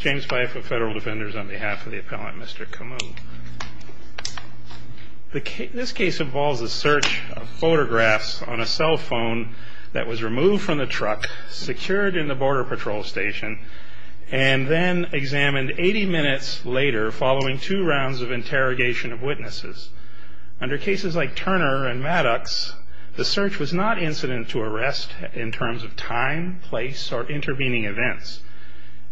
James Pfeiffer Federal Defenders on behalf of the appellant, Mr. Camou. This case involves a search of photographs on a cell phone that was removed from the truck, secured in the Border Patrol Station, and then examined 80 minutes later following two rounds of interrogation of witnesses. Under cases like Turner and Maddox, the search was not incident to arrest in terms of time, place, or intervening events.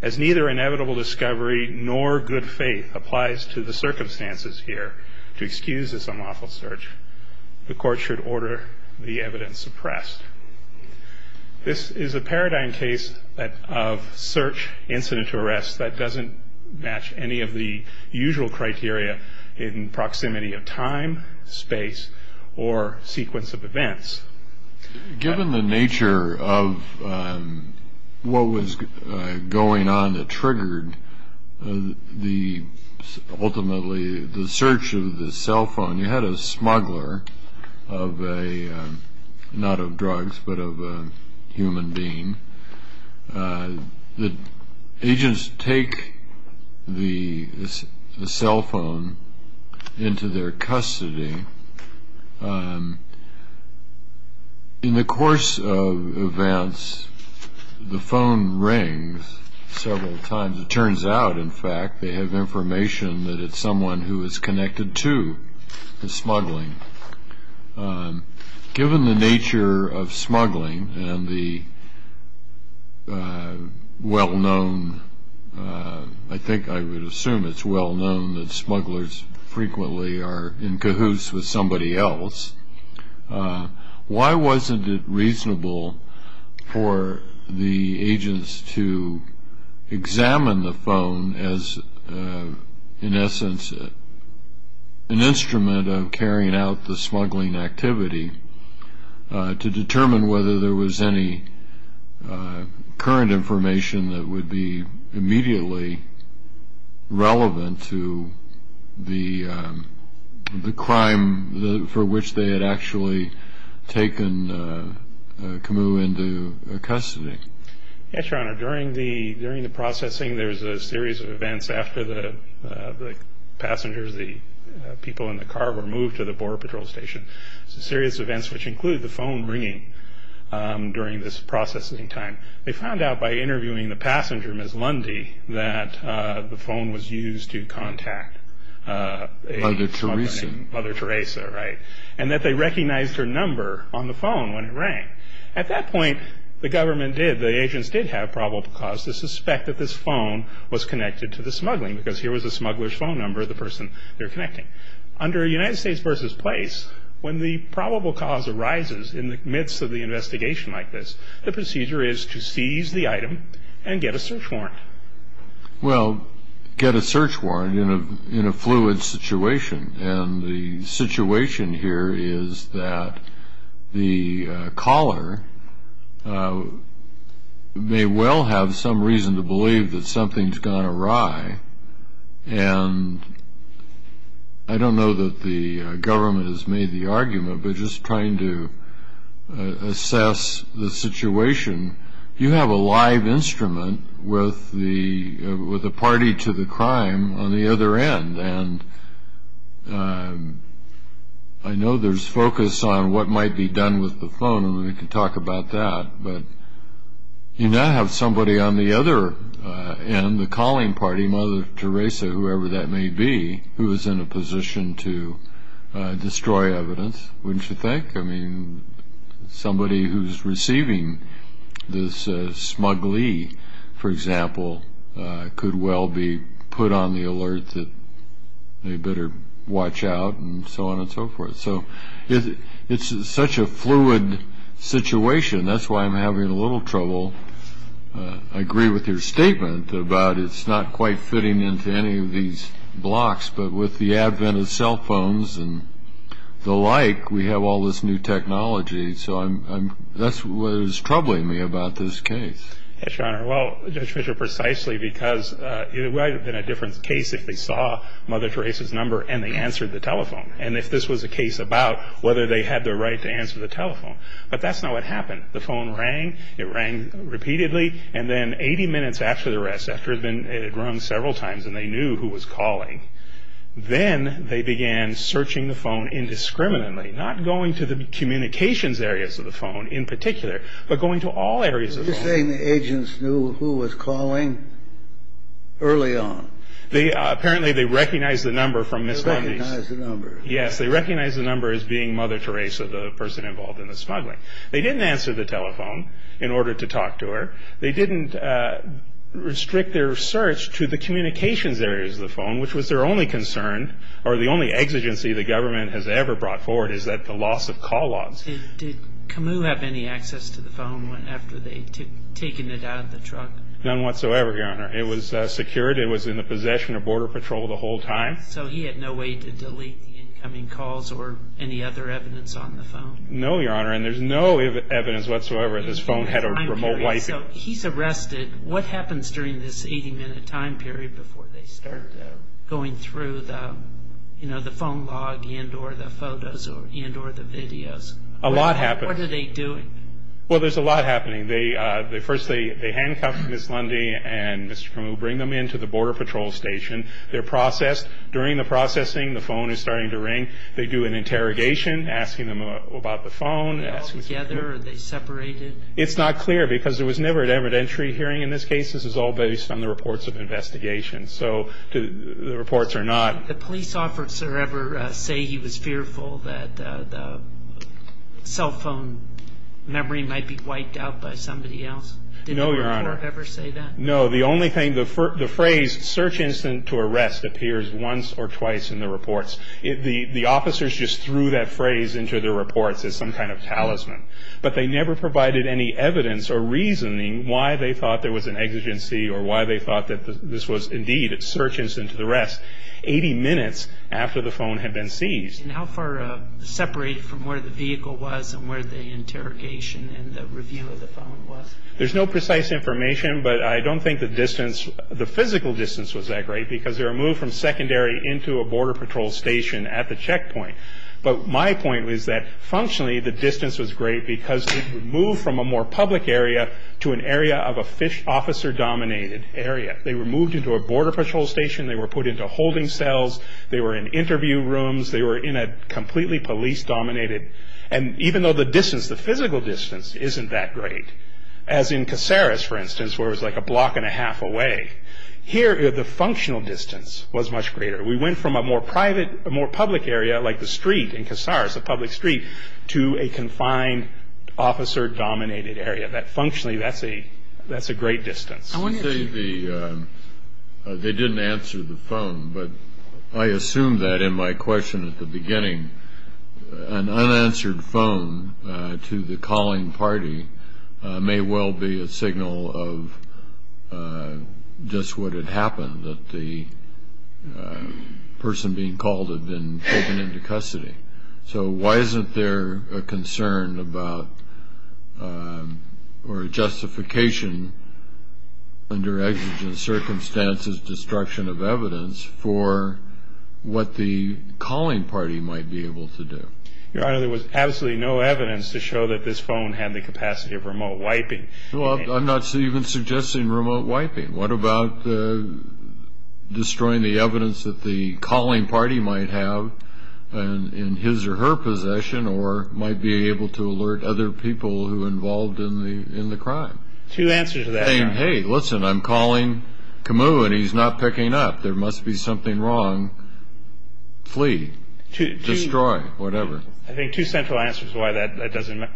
As neither inevitable discovery nor good faith applies to the circumstances here to excuse this unlawful search, the court should order the evidence suppressed. This is a paradigm case of search incident to arrest that doesn't match any of the usual criteria in proximity of time, space, or sequence of events. Given the nature of what was going on that triggered the ultimately the search of the cell phone, you had a smuggler of a, not of drugs, but of a human being. The agents take the cell phone into their custody. In the course of events, the phone rings several times. It turns out, in fact, they have information that it's someone who is connected to the smuggling. Given the nature of smuggling and the well-known, I think I would assume it's well-known, that smugglers frequently are in cahoots with somebody else, why wasn't it reasonable for the agents to examine the phone as, in essence, an instrument of carrying out the smuggling activity to determine whether there was any current information that would be immediately relevant to the crime for which they had actually taken Camus into custody? Yes, Your Honor. During the processing, there's a series of events after the passengers, the people in the car were moved to the Border Patrol Station. It's a series of events which include the phone ringing during this processing time. They found out by interviewing the passenger, Ms. Lundy, that the phone was used to contact a smuggler. Mother Teresa. Mother Teresa, right, and that they recognized her number on the phone when it rang. At that point, the government did, the agents did have probable cause to suspect that this phone was connected to the smuggling because here was the smuggler's phone number, the person they were connecting. Under United States v. Place, when the probable cause arises in the midst of the investigation like this, the procedure is to seize the item and get a search warrant. Well, get a search warrant in a fluid situation, and the situation here is that the caller may well have some reason to believe that something's gone awry, and I don't know that the government has made the argument, but just trying to assess the situation. You have a live instrument with the party to the crime on the other end, and I know there's focus on what might be done with the phone, and we can talk about that, but you now have somebody on the other end, the calling party, Mother Teresa, whoever that may be, who is in a position to destroy evidence, wouldn't you think? I mean, somebody who's receiving this smuggly, for example, could well be put on the alert that they better watch out and so on and so forth. So it's such a fluid situation. That's why I'm having a little trouble. I agree with your statement about it's not quite fitting into any of these blocks, but with the advent of cell phones and the like, we have all this new technology, so that's what is troubling me about this case. Yes, Your Honor. Well, Judge Fischer, precisely because it might have been a different case if they saw Mother Teresa's number and they answered the telephone, and if this was a case about whether they had the right to answer the telephone, but that's not what happened. The phone rang. It rang repeatedly, and then 80 minutes after the arrest, after it had rung several times and they knew who was calling, then they began searching the phone indiscriminately, not going to the communications areas of the phone in particular, but going to all areas of the phone. Are you saying the agents knew who was calling early on? Apparently, they recognized the number from Miss Lundy's. They recognized the number. Yes, they recognized the number as being Mother Teresa, the person involved in the smuggling. They didn't answer the telephone in order to talk to her. They didn't restrict their search to the communications areas of the phone, which was their only concern or the only exigency the government has ever brought forward is that the loss of call logs. Did Camus have any access to the phone after they had taken it out of the truck? None whatsoever, Your Honor. It was secured. It was in the possession of Border Patrol the whole time. So he had no way to delete the incoming calls or any other evidence on the phone? No, Your Honor, and there's no evidence whatsoever that this phone had a remote wipe. So he's arrested. What happens during this 80-minute time period before they start going through the phone log and or the photos and or the videos? A lot happens. What are they doing? Well, there's a lot happening. First, they handcuff Miss Lundy and Mr. Camus, bring them into the Border Patrol station. They're processed. During the processing, the phone is starting to ring. They do an interrogation, asking them about the phone. Are they all together or are they separated? It's not clear because there was never an evidentiary hearing in this case. This is all based on the reports of investigations. So the reports are not. Did the police officer ever say he was fearful that the cell phone memory might be wiped out by somebody else? No, Your Honor. Did the reporter ever say that? No. The only thing, the phrase search incident to arrest appears once or twice in the reports. The officers just threw that phrase into the reports as some kind of talisman. But they never provided any evidence or reasoning why they thought there was an exigency or why they thought that this was indeed a search incident to arrest 80 minutes after the phone had been seized. And how far separated from where the vehicle was and where the interrogation and the review of the phone was? There's no precise information, but I don't think the distance, the physical distance was that great because they were moved from secondary into a border patrol station at the checkpoint. But my point was that, functionally, the distance was great because they were moved from a more public area to an area of a fish officer-dominated area. They were moved into a border patrol station. They were put into holding cells. They were in interview rooms. They were in a completely police-dominated. And even though the distance, the physical distance, isn't that great, as in Caceres, for instance, where it was like a block and a half away, here the functional distance was much greater. We went from a more public area like the street in Caceres, a public street, to a confined officer-dominated area. Functionally, that's a great distance. They didn't answer the phone, but I assumed that in my question at the beginning. An unanswered phone to the calling party may well be a signal of just what had happened, that the person being called had been taken into custody. So why isn't there a concern about or a justification under exigent circumstances, destruction of evidence, for what the calling party might be able to do? Your Honor, there was absolutely no evidence to show that this phone had the capacity of remote wiping. I'm not even suggesting remote wiping. What about destroying the evidence that the calling party might have in his or her possession or might be able to alert other people who are involved in the crime? Two answers to that. You're saying, hey, listen, I'm calling Camus and he's not picking up. There must be something wrong. Flee. Destroy. Whatever. I think two central answers to why that doesn't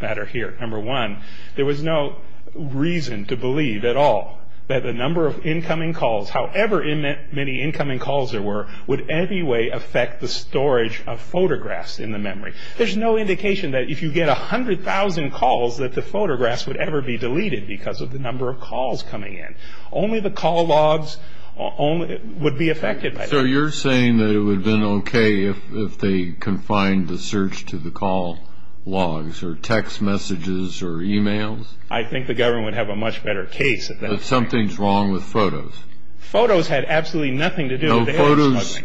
matter here. Number one, there was no reason to believe at all that the number of incoming calls, however many incoming calls there were, would anyway affect the storage of photographs in the memory. There's no indication that if you get 100,000 calls, that the photographs would ever be deleted because of the number of calls coming in. Only the call logs would be affected. So you're saying that it would have been okay if they confined the search to the call logs or text messages or e-mails? I think the government would have a much better case of that. But something's wrong with photos. Photos had absolutely nothing to do with it. Photos,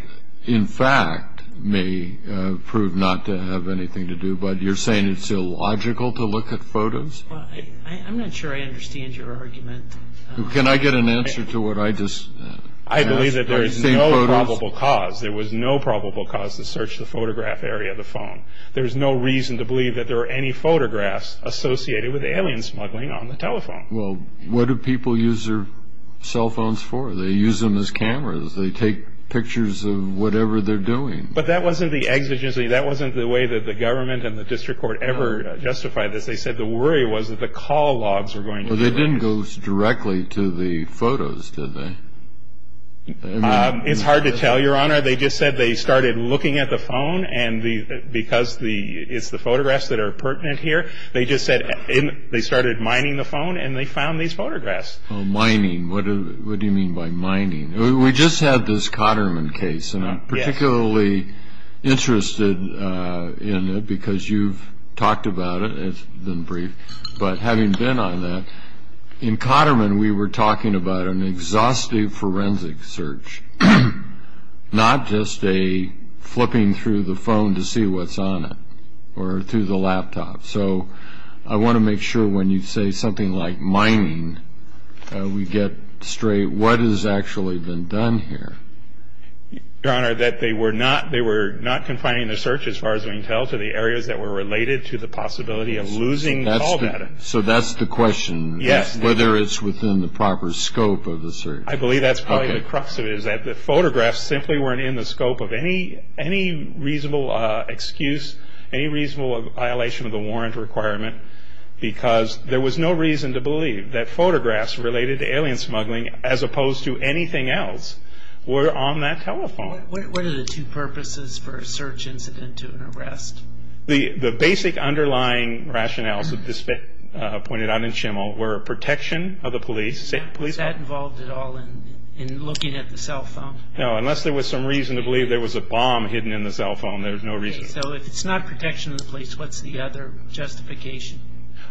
in fact, may prove not to have anything to do. But you're saying it's illogical to look at photos? I'm not sure I understand your argument. Can I get an answer to what I just asked? I believe that there is no probable cause. There was no probable cause to search the photograph area of the phone. There's no reason to believe that there are any photographs associated with alien smuggling on the telephone. Well, what do people use their cell phones for? They use them as cameras. They take pictures of whatever they're doing. But that wasn't the exigency. That wasn't the way that the government and the district court ever justified this. They said the worry was that the call logs were going to be deleted. But they didn't go directly to the photos, did they? It's hard to tell, Your Honor. They just said they started looking at the phone, and because it's the photographs that are pertinent here, they just said they started mining the phone, and they found these photographs. Mining. What do you mean by mining? We just had this Cotterman case, and I'm particularly interested in it because you've talked about it. It's been brief. But having been on that, in Cotterman we were talking about an exhaustive forensic search, not just a flipping through the phone to see what's on it or through the laptop. So I want to make sure when you say something like mining, we get straight what has actually been done here. Your Honor, that they were not confining the search, as far as we can tell, to the areas that were related to the possibility of losing call data. So that's the question. Yes. Whether it's within the proper scope of the search. I believe that's probably the crux of it, is that the photographs simply weren't in the scope of any reasonable excuse, any reasonable violation of the warrant requirement, because there was no reason to believe that photographs related to alien smuggling, as opposed to anything else, were on that telephone. What are the two purposes for a search incident to an arrest? The basic underlying rationales, as pointed out in Schimmel, were protection of the police. Was that involved at all in looking at the cell phone? No, unless there was some reason to believe there was a bomb hidden in the cell phone. There was no reason. So if it's not protection of the police, what's the other justification?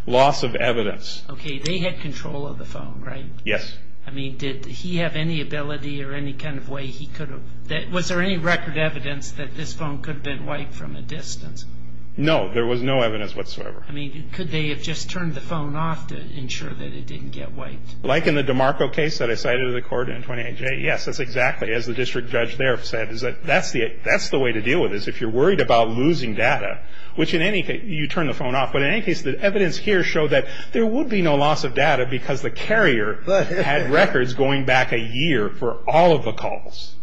Loss of evidence. Okay, they had control of the phone, right? Yes. I mean, did he have any ability or any kind of way he could have? Was there any record evidence that this phone could have been wiped from a distance? No, there was no evidence whatsoever. I mean, could they have just turned the phone off to ensure that it didn't get wiped? Like in the DiMarco case that I cited in the court in 28J, yes, that's exactly. As the district judge there said, that's the way to deal with this. If you're worried about losing data, which in any case, you turn the phone off. But in any case, the evidence here showed that there would be no loss of data because the carrier had records going back a year for all of the calls.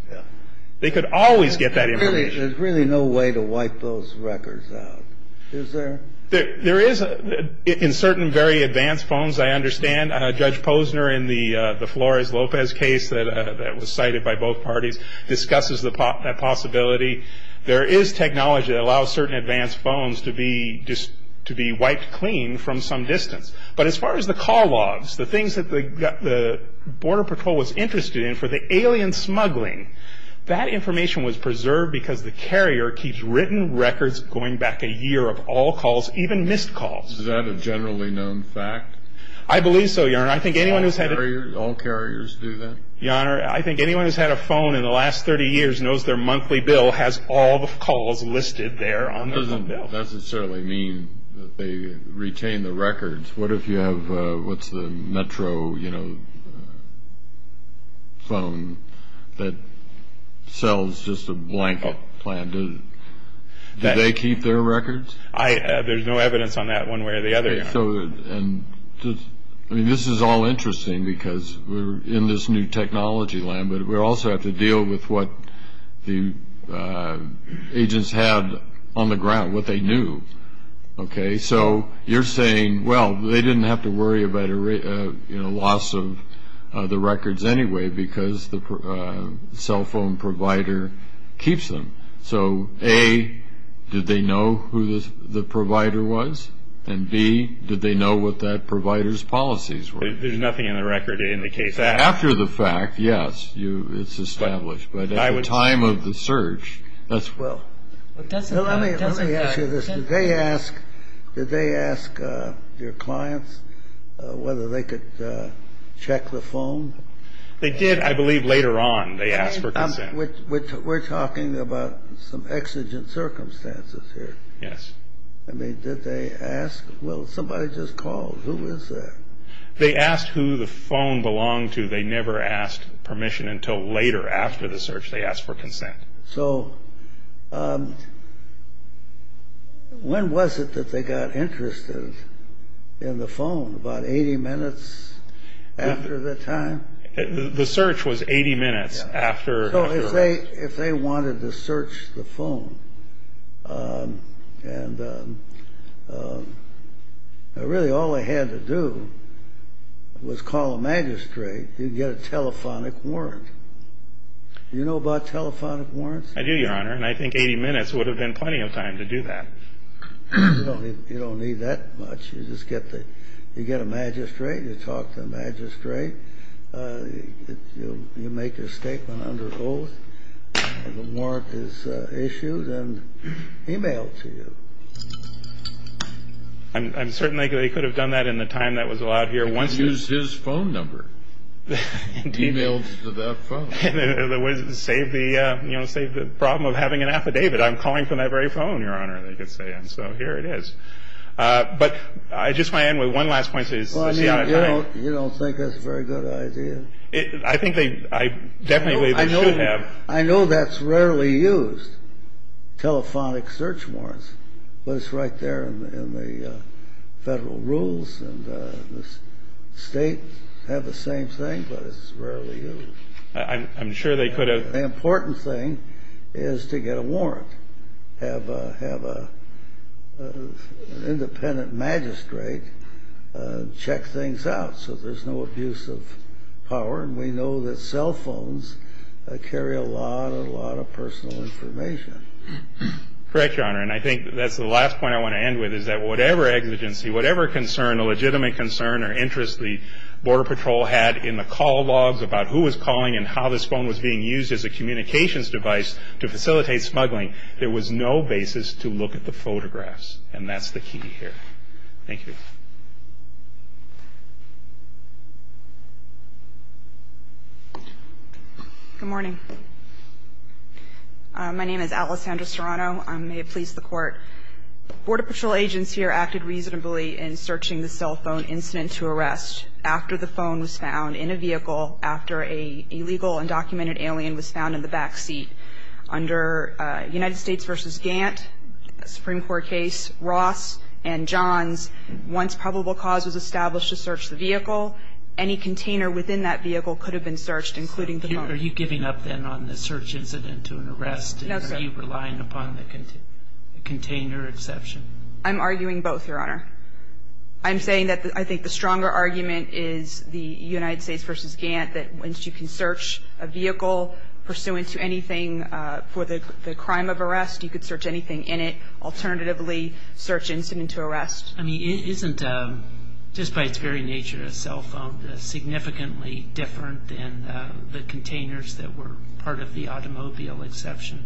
They could always get that information. There's really no way to wipe those records out, is there? There is in certain very advanced phones, I understand. Judge Posner in the Flores-Lopez case that was cited by both parties discusses that possibility. There is technology that allows certain advanced phones to be wiped clean from some distance. But as far as the call logs, the things that the Border Patrol was interested in for the alien smuggling, that information was preserved because the carrier keeps written records going back a year of all calls, even missed calls. Is that a generally known fact? I believe so, Your Honor. All carriers do that? Your Honor, I think anyone who's had a phone in the last 30 years knows their monthly bill has all the calls listed there on the bill. That doesn't necessarily mean that they retain the records. What if you have the Metro phone that sells just a blanket plan? Do they keep their records? There's no evidence on that one way or the other, Your Honor. This is all interesting because we're in this new technology land, but we also have to deal with what the agents had on the ground, what they knew. So you're saying, well, they didn't have to worry about a loss of the records anyway because the cell phone provider keeps them. So, A, did they know who the provider was? And, B, did they know what that provider's policies were? There's nothing in the record indicating that. After the fact, yes, it's established. But at the time of the search, that's... Let me ask you this. Did they ask your clients whether they could check the phone? They did, I believe, later on. They asked for consent. We're talking about some exigent circumstances here. Yes. I mean, did they ask? Well, somebody just called. Who was that? They asked who the phone belonged to. They never asked permission until later, after the search. They asked for consent. So when was it that they got interested in the phone? About 80 minutes after the time? The search was 80 minutes after... So if they wanted to search the phone, and really all they had to do was call a magistrate. You'd get a telephonic warrant. Do you know about telephonic warrants? I do, Your Honor, and I think 80 minutes would have been plenty of time to do that. You don't need that much. You just get a magistrate. You talk to the magistrate. You make your statement under oath. The warrant is issued and emailed to you. I'm certain they could have done that in the time that was allowed here. Use his phone number. Email to that phone. Save the problem of having an affidavit. I'm calling from that very phone, Your Honor, they could say, and so here it is. But I just want to end with one last point. You don't think that's a very good idea? I think they definitely should have. I know that's rarely used, telephonic search warrants, but it's right there in the federal rules, and the states have the same thing, but it's rarely used. I'm sure they could have. The important thing is to get a warrant, have an independent magistrate check things out so there's no abuse of power, and we know that cell phones carry a lot, a lot of personal information. Correct, Your Honor, and I think that's the last point I want to end with, is that whatever exigency, whatever concern, a legitimate concern, or interest the Border Patrol had in the call logs about who was calling and how this phone was being used as a communications device to facilitate smuggling, there was no basis to look at the photographs, and that's the key here. Thank you. Good morning. My name is Alessandra Serrano. May it please the Court. Border Patrol agents here acted reasonably in searching the cell phone incident to arrest after the phone was found in a vehicle, after an illegal undocumented alien was found in the back seat. Under United States v. Gantt, a Supreme Court case, Ross and Johns, once probable cause was established to search the vehicle, any container within that vehicle could have been searched, including the phone. Are you giving up then on the search incident to an arrest? No, sir. Are you relying upon the container exception? I'm arguing both, Your Honor. I'm saying that I think the stronger argument is the United States v. Gantt, that once you can search a vehicle pursuant to anything for the crime of arrest, you could search anything in it, alternatively search incident to arrest. I mean, isn't, just by its very nature, a cell phone significantly different than the containers that were part of the automobile exception?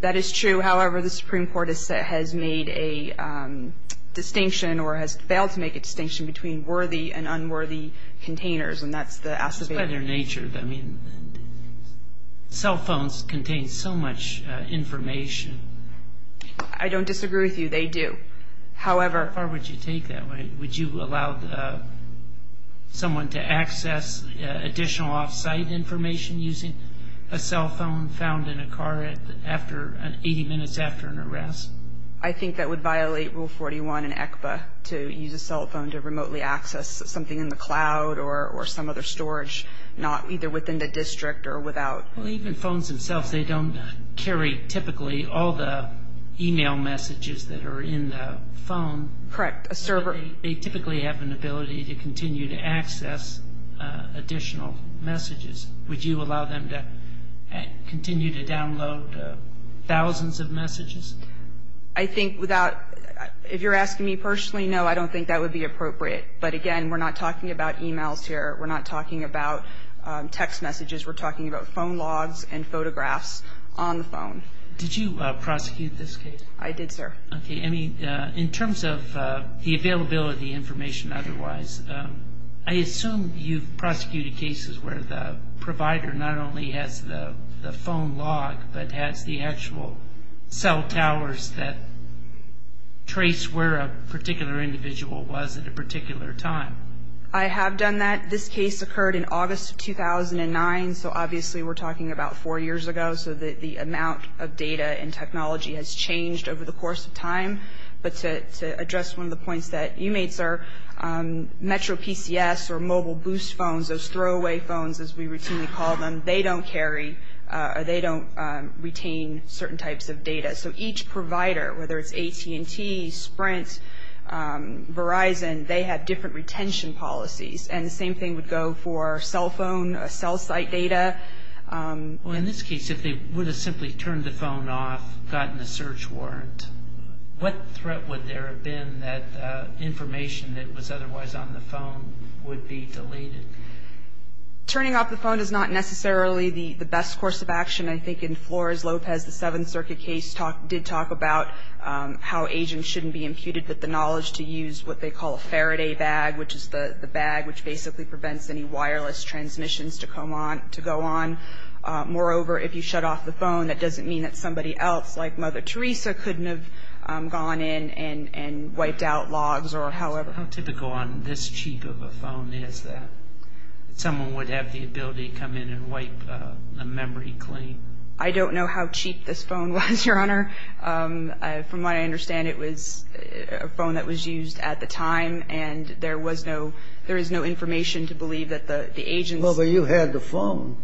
That is true. However, the Supreme Court has made a distinction or has failed to make a distinction between worthy and unworthy containers, and that's the acivator. It's by their nature. I mean, cell phones contain so much information. I don't disagree with you. They do. However. How far would you take that? Would you allow someone to access additional off-site information using a cell phone found in a car 80 minutes after an arrest? I think that would violate Rule 41 in ECPA, to use a cell phone to remotely access something in the cloud or some other storage, not either within the district or without. Well, even phones themselves, they don't carry typically all the e-mail messages that are in the phone. Correct, a server. They typically have an ability to continue to access additional messages. Would you allow them to continue to download thousands of messages? I think without, if you're asking me personally, no, I don't think that would be appropriate. But, again, we're not talking about e-mails here. We're not talking about text messages. We're talking about phone logs and photographs on the phone. Did you prosecute this case? I did, sir. Okay. I mean, in terms of the availability information otherwise, I assume you've prosecuted cases where the provider not only has the phone log but has the actual cell towers that trace where a particular individual was at a particular time. I have done that. This case occurred in August of 2009, so obviously we're talking about four years ago, so the amount of data and technology has changed over the course of time. But to address one of the points that you made, sir, Metro PCS or mobile boost phones, those throwaway phones as we routinely call them, they don't carry or they don't retain certain types of data. So each provider, whether it's AT&T, Sprint, Verizon, they have different retention policies. And the same thing would go for cell phone, cell site data. Well, in this case, if they would have simply turned the phone off, gotten a search warrant, what threat would there have been that information that was otherwise on the phone would be deleted? Turning off the phone is not necessarily the best course of action. I think in Flores Lopez, the Seventh Circuit case, did talk about how agents shouldn't be imputed with the knowledge to use what they call a Faraday bag, which is the bag which basically prevents any wireless transmissions to go on. Moreover, if you shut off the phone, that doesn't mean that somebody else like Mother Teresa couldn't have gone in and wiped out logs or however. How typical on this cheap of a phone is that someone would have the ability to come in and wipe a memory clean? I don't know how cheap this phone was, Your Honor. From what I understand, it was a phone that was used at the time and there was no information to believe that the agents... Well, but you had the phone.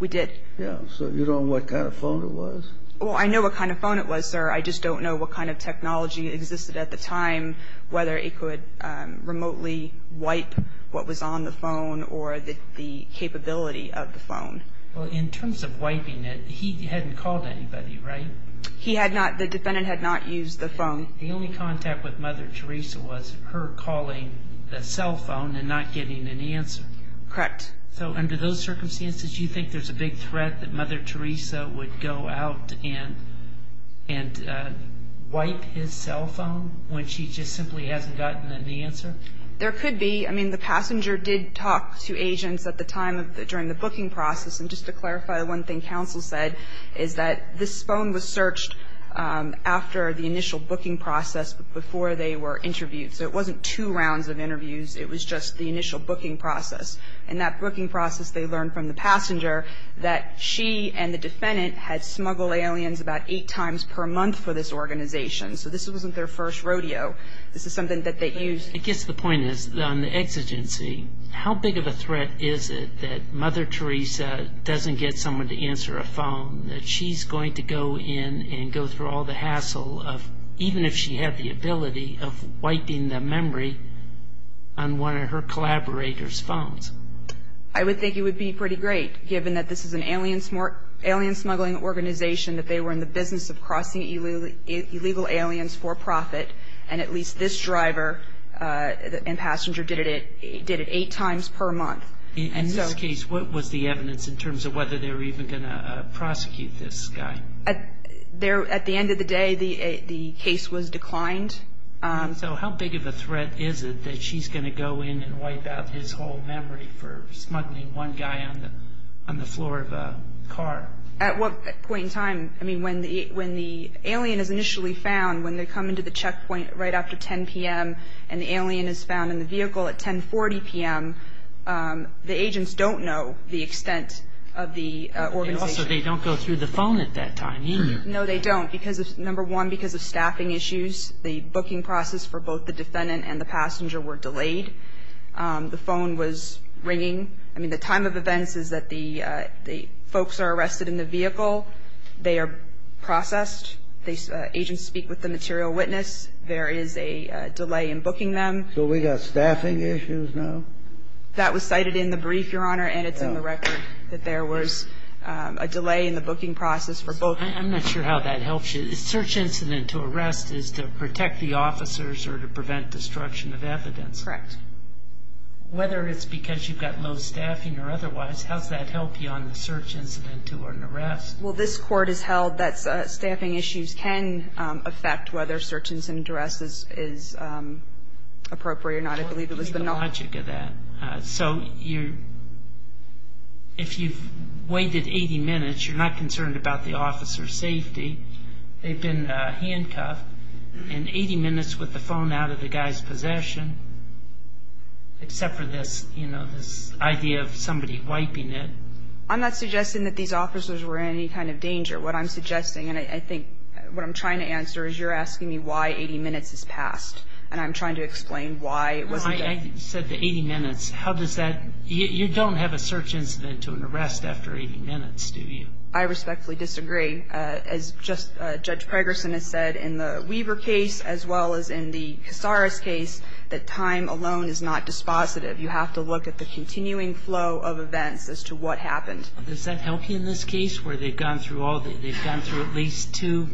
We did. Yeah. So you don't know what kind of phone it was? Well, I know what kind of phone it was, sir. I just don't know what kind of technology existed at the time, whether it could remotely wipe what was on the phone or the capability of the phone. Well, in terms of wiping it, he hadn't called anybody, right? He had not. The defendant had not used the phone. The only contact with Mother Teresa was her calling the cell phone and not getting an answer. Correct. So under those circumstances, do you think there's a big threat that Mother Teresa would go out and wipe his cell phone when she just simply hasn't gotten an answer? There could be. I mean, the passenger did talk to agents at the time during the booking process. And just to clarify, one thing counsel said is that this phone was searched after the initial booking process before they were interviewed. So it wasn't two rounds of interviews. It was just the initial booking process. In that booking process, they learned from the passenger that she and the defendant had smuggled aliens about eight times per month for this organization. So this wasn't their first rodeo. This is something that they used... I guess the point is, on the exigency, how big of a threat is it that Mother Teresa doesn't get someone to answer a phone, that she's going to go in and go through all the hassle of, even if she had the ability, of wiping the memory on one of her collaborator's phones? I would think it would be pretty great, given that this is an alien smuggling organization, that they were in the business of crossing illegal aliens for profit, and at least this driver and passenger did it eight times per month. And in this case, what was the evidence in terms of whether they were even going to prosecute this guy? At the end of the day, the case was declined. So how big of a threat is it that she's going to go in and wipe out his whole memory for smuggling one guy on the floor of a car? At what point in time? When the alien is initially found, when they come into the checkpoint right after 10 p.m., and the alien is found in the vehicle at 10.40 p.m., the agents don't know the extent of the organization. And also, they don't go through the phone at that time, either. No, they don't. Number one, because of staffing issues, the booking process for both the defendant and the passenger were delayed. The phone was ringing. I mean, the time of events is that the folks are arrested in the vehicle. They are processed. Agents speak with the material witness. There is a delay in booking them. So we got staffing issues now? That was cited in the brief, Your Honor, and it's in the record that there was a delay in the booking process for both. I'm not sure how that helps you. A search incident to arrest is to protect the officers or to prevent destruction of evidence. Correct. Whether it's because you've got low staffing or otherwise, how does that help you on the search incident to an arrest? Well, this Court has held that staffing issues can affect whether search incident to arrest is appropriate or not. I believe it was the knowledge. The logic of that. So if you've waited 80 minutes, you're not concerned about the officer's safety. They've been handcuffed. And 80 minutes with the phone out of the guy's possession, except for this idea of somebody wiping it. I'm not suggesting that these officers were in any kind of danger. What I'm suggesting and I think what I'm trying to answer is you're asking me why 80 minutes has passed, and I'm trying to explain why it wasn't done. I said the 80 minutes. You don't have a search incident to an arrest after 80 minutes, do you? I respectfully disagree. As Judge Pregerson has said, in the Weaver case as well as in the Casares case, that time alone is not dispositive. You have to look at the continuing flow of events as to what happened. Does that help you in this case where they've gone through at least two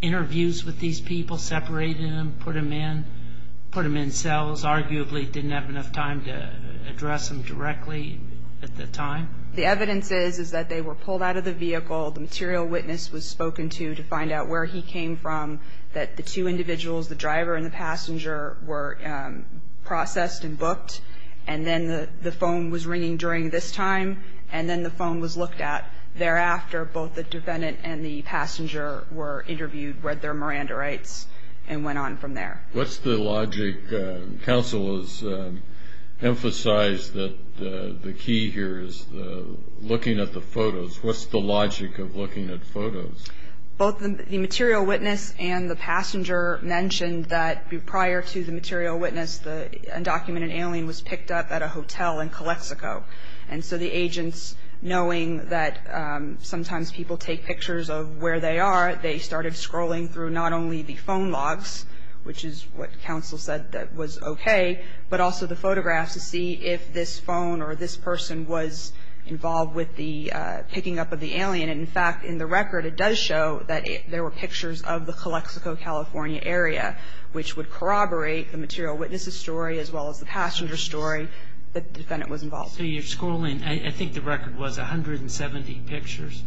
interviews with these people, separated them, put them in cells, arguably didn't have enough time to address them directly at the time? The evidence is that they were pulled out of the vehicle. The material witness was spoken to to find out where he came from, that the two individuals, the driver and the passenger, were processed and booked. And then the phone was ringing during this time, and then the phone was looked at. Thereafter, both the defendant and the passenger were interviewed, read their Miranda rights, and went on from there. What's the logic? Counsel has emphasized that the key here is looking at the photos. What's the logic of looking at photos? Both the material witness and the passenger mentioned that prior to the material witness, the undocumented alien was picked up at a hotel in Calexico. And so the agents, knowing that sometimes people take pictures of where they are, they started scrolling through not only the phone logs, which is what counsel said that was okay, but also the photographs to see if this phone or this person was involved with the picking up of the alien. In fact, in the record, it does show that there were pictures of the Calexico, California area, which would corroborate the material witness's story as well as the passenger's story that the defendant was involved with. So you're scrolling, I think the record was 170 pictures?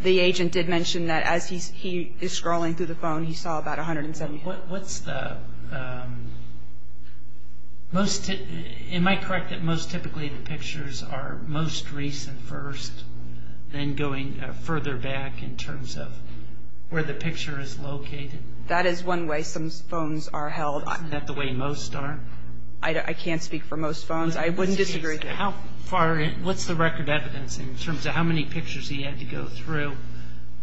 The agent did mention that as he is scrolling through the phone, he saw about 170. What's the – am I correct that most typically the pictures are most recent first, then going further back in terms of where the picture is located? That is one way some phones are held. Isn't that the way most are? I can't speak for most phones. I wouldn't disagree. What's the record evidence in terms of how many pictures he had to go through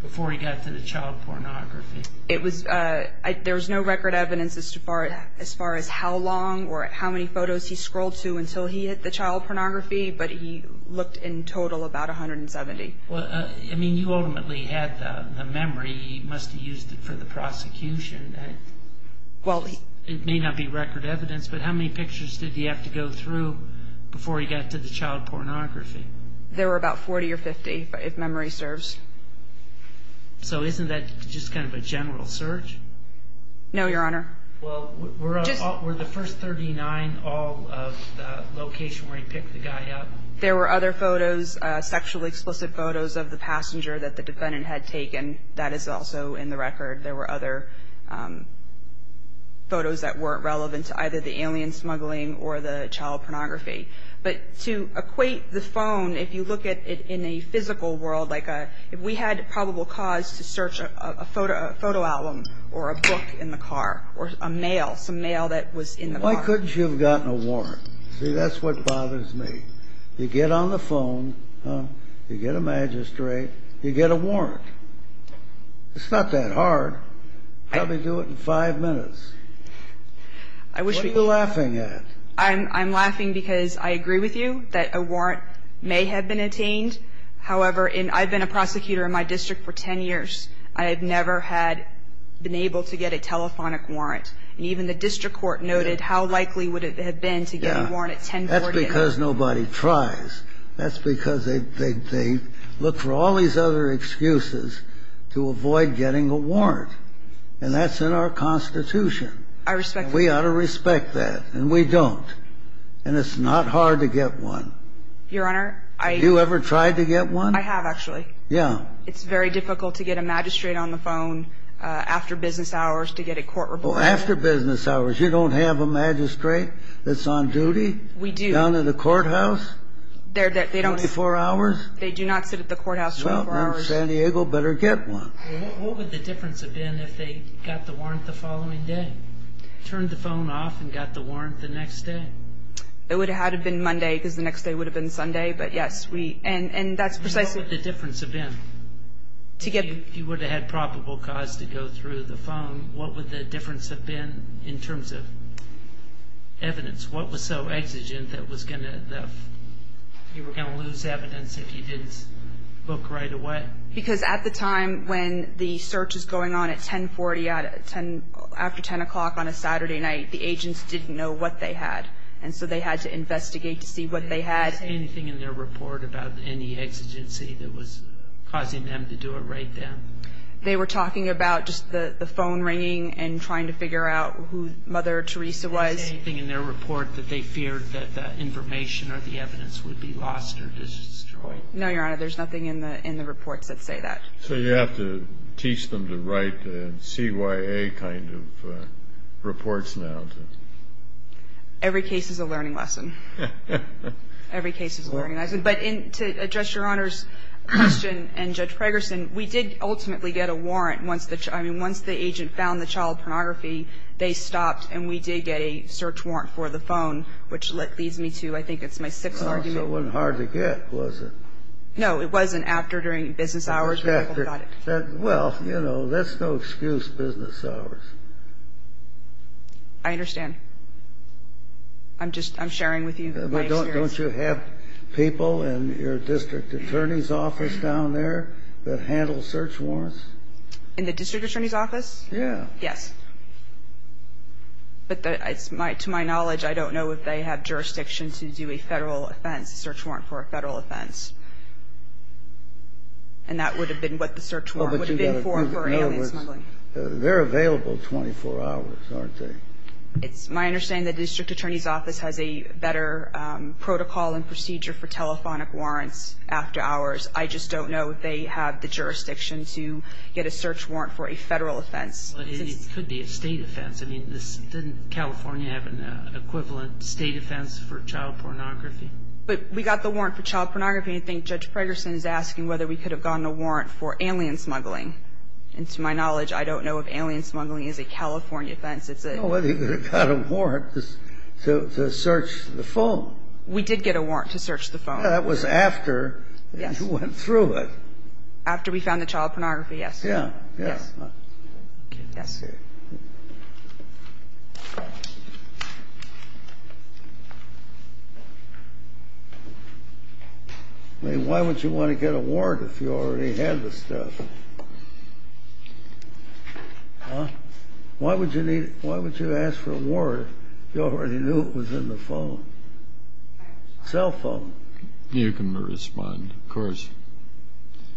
before he got to the child pornography? There was no record evidence as far as how long or how many photos he scrolled to until he hit the child pornography, but he looked in total about 170. I mean, you ultimately had the memory. He must have used it for the prosecution. It may not be record evidence, but how many pictures did he have to go through before he got to the child pornography? There were about 40 or 50, if memory serves. So isn't that just kind of a general search? No, Your Honor. Well, were the first 39 all of the location where he picked the guy up? There were other photos, sexually explicit photos of the passenger that the defendant had taken. That is also in the record. There were other photos that weren't relevant to either the alien smuggling or the child pornography. But to equate the phone, if you look at it in a physical world, like if we had probable cause to search a photo album or a book in the car or a mail, some mail that was in the car. Why couldn't you have gotten a warrant? See, that's what bothers me. You get on the phone. You get a magistrate. You get a warrant. It's not that hard. Probably do it in five minutes. What are you laughing at? I'm laughing because I agree with you that a warrant may have been obtained. However, I've been a prosecutor in my district for 10 years. I have never had been able to get a telephonic warrant. And even the district court noted how likely would it have been to get a warrant at 1040. That's because nobody tries. That's because they look for all these other excuses to avoid getting a warrant. And that's in our Constitution. I respect that. We ought to respect that. And we don't. And it's not hard to get one. Your Honor, I do. Have you ever tried to get one? I have, actually. Yeah. It's very difficult to get a magistrate on the phone after business hours to get a court report. Well, after business hours, you don't have a magistrate that's on duty. We do. Down at the courthouse. 24 hours? They do not sit at the courthouse 24 hours. Well, then San Diego better get one. What would the difference have been if they got the warrant the following day? Turned the phone off and got the warrant the next day? It would have had to have been Monday because the next day would have been Sunday. But, yes, we – and that's precisely – What would the difference have been? If you would have had probable cause to go through the phone, what would the difference have been in terms of evidence? What was so exigent that was going to – you were going to lose evidence if you didn't look right away? Because at the time when the search is going on at 1040 after 10 o'clock on a Saturday night, the agents didn't know what they had. And so they had to investigate to see what they had. Did they say anything in their report about any exigency that was causing them to do it right then? They were talking about just the phone ringing and trying to figure out who Mother Teresa was. Did they say anything in their report that they feared that the information or the evidence would be lost or destroyed? No, Your Honor. There's nothing in the reports that say that. So you have to teach them to write CYA kind of reports now? Every case is a learning lesson. Every case is a learning lesson. But to address Your Honor's question and Judge Pregerson, we did ultimately get a warrant once the – I mean, once the agent found the child pornography, they stopped and we did get a search warrant for the phone, which leads me to I think it's my sixth argument. So it wasn't hard to get, was it? No, it wasn't after during business hours when people got it. Well, you know, that's no excuse, business hours. I understand. I'm just – I'm sharing with you my experience. Don't you have people in your district attorney's office down there that handle search warrants? In the district attorney's office? Yeah. Yes. But to my knowledge, I don't know if they have jurisdiction to do a Federal offense, a search warrant for a Federal offense. And that would have been what the search warrant would have been for, for alien smuggling. They're available 24 hours, aren't they? It's my understanding that the district attorney's office has a better protocol and procedure for telephonic warrants after hours. I just don't know if they have the jurisdiction to get a search warrant for a Federal offense. But it could be a State offense. I mean, didn't California have an equivalent State offense for child pornography? But we got the warrant for child pornography. I think Judge Pregerson is asking whether we could have gotten a warrant for alien smuggling. And to my knowledge, I don't know if alien smuggling is a California offense. It's a – Well, they could have got a warrant to search the phone. We did get a warrant to search the phone. Yeah, that was after you went through it. After we found the child pornography, yes. Yeah. Okay. Yes. Okay. I mean, why would you want to get a warrant if you already had the stuff? Huh? Why would you need – why would you ask for a warrant if you already knew it was in the phone? Cell phone. You can respond, of course.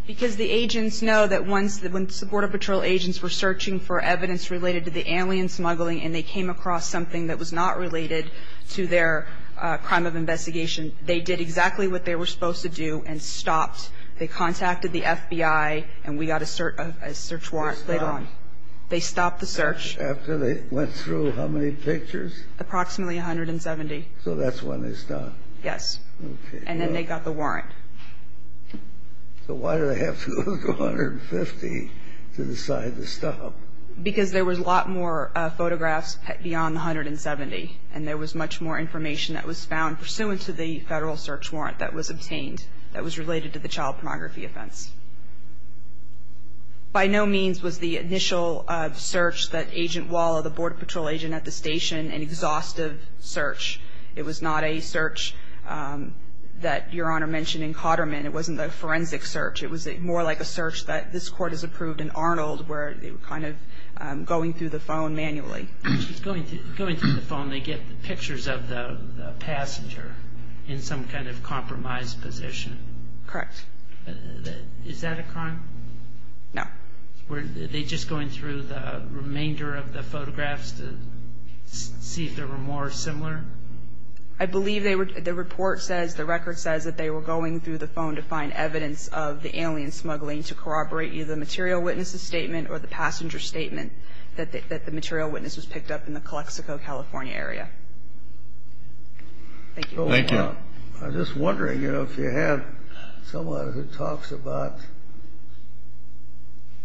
Because the agents know that once the Border Patrol agents were searching for evidence related to the alien smuggling and they came across something that was not related to their crime of investigation, they did exactly what they were supposed to do and stopped. They contacted the FBI, and we got a search warrant later on. They stopped? They stopped the search. After they went through how many pictures? Approximately 170. So that's when they stopped? Yes. Okay. And then they got the warrant. So why did they have to go to 150 to decide to stop? Because there was a lot more photographs beyond 170, and there was much more information that was found pursuant to the federal search warrant that was obtained that was related to the child pornography offense. By no means was the initial search that Agent Walla, the Border Patrol agent at the station, an exhaustive search. It was not a search that Your Honor mentioned in Cotterman. It wasn't a forensic search. It was more like a search that this Court has approved in Arnold, where they were kind of going through the phone manually. Going through the phone, they get pictures of the passenger in some kind of compromised position. Correct. Is that a crime? No. Were they just going through the remainder of the photographs to see if there were more similar? I believe the report says, the record says that they were going through the phone to find evidence of the alien smuggling to corroborate either the material witness's statement or the passenger's statement that the material witness was picked up in the Calexico, California area. Thank you. Thank you. I'm just wondering, you know, if you had someone who talks about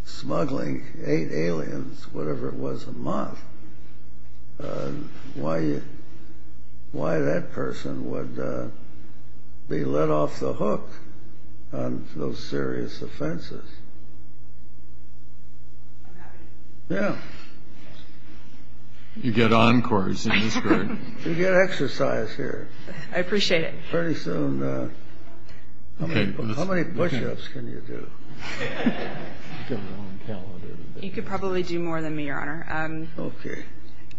smuggling eight aliens, whatever it was, a month, why that person would be let off the hook on those serious offenses? I'm happy to. Yeah. You get encores in this Court. You get exercise here. I appreciate it. Pretty soon. How many push-ups can you do? You could probably do more than me, Your Honor. Okay.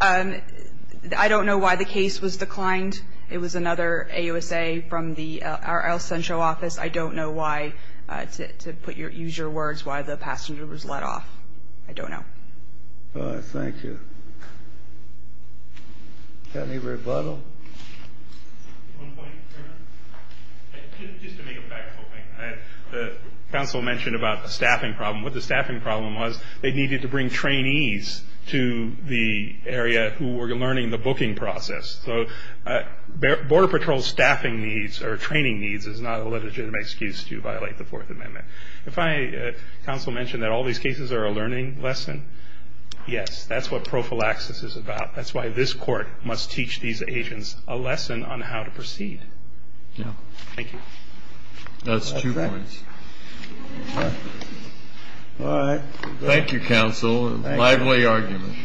I don't know why the case was declined. It was another AUSA from our L-Central office. I don't know why, to use your words, why the passenger was let off. I don't know. Thank you. Got any rebuttal? One point, Your Honor. Just to make a factual point. The counsel mentioned about the staffing problem. What the staffing problem was, they needed to bring trainees to the area who were learning the booking process. So Border Patrol staffing needs or training needs is not a legitimate excuse to violate the Fourth Amendment. And finally, counsel mentioned that all these cases are a learning lesson. Yes, that's what prophylaxis is about. That's why this Court must teach these agents a lesson on how to proceed. Thank you. That's two points. All right. Thank you, counsel. A lively argument.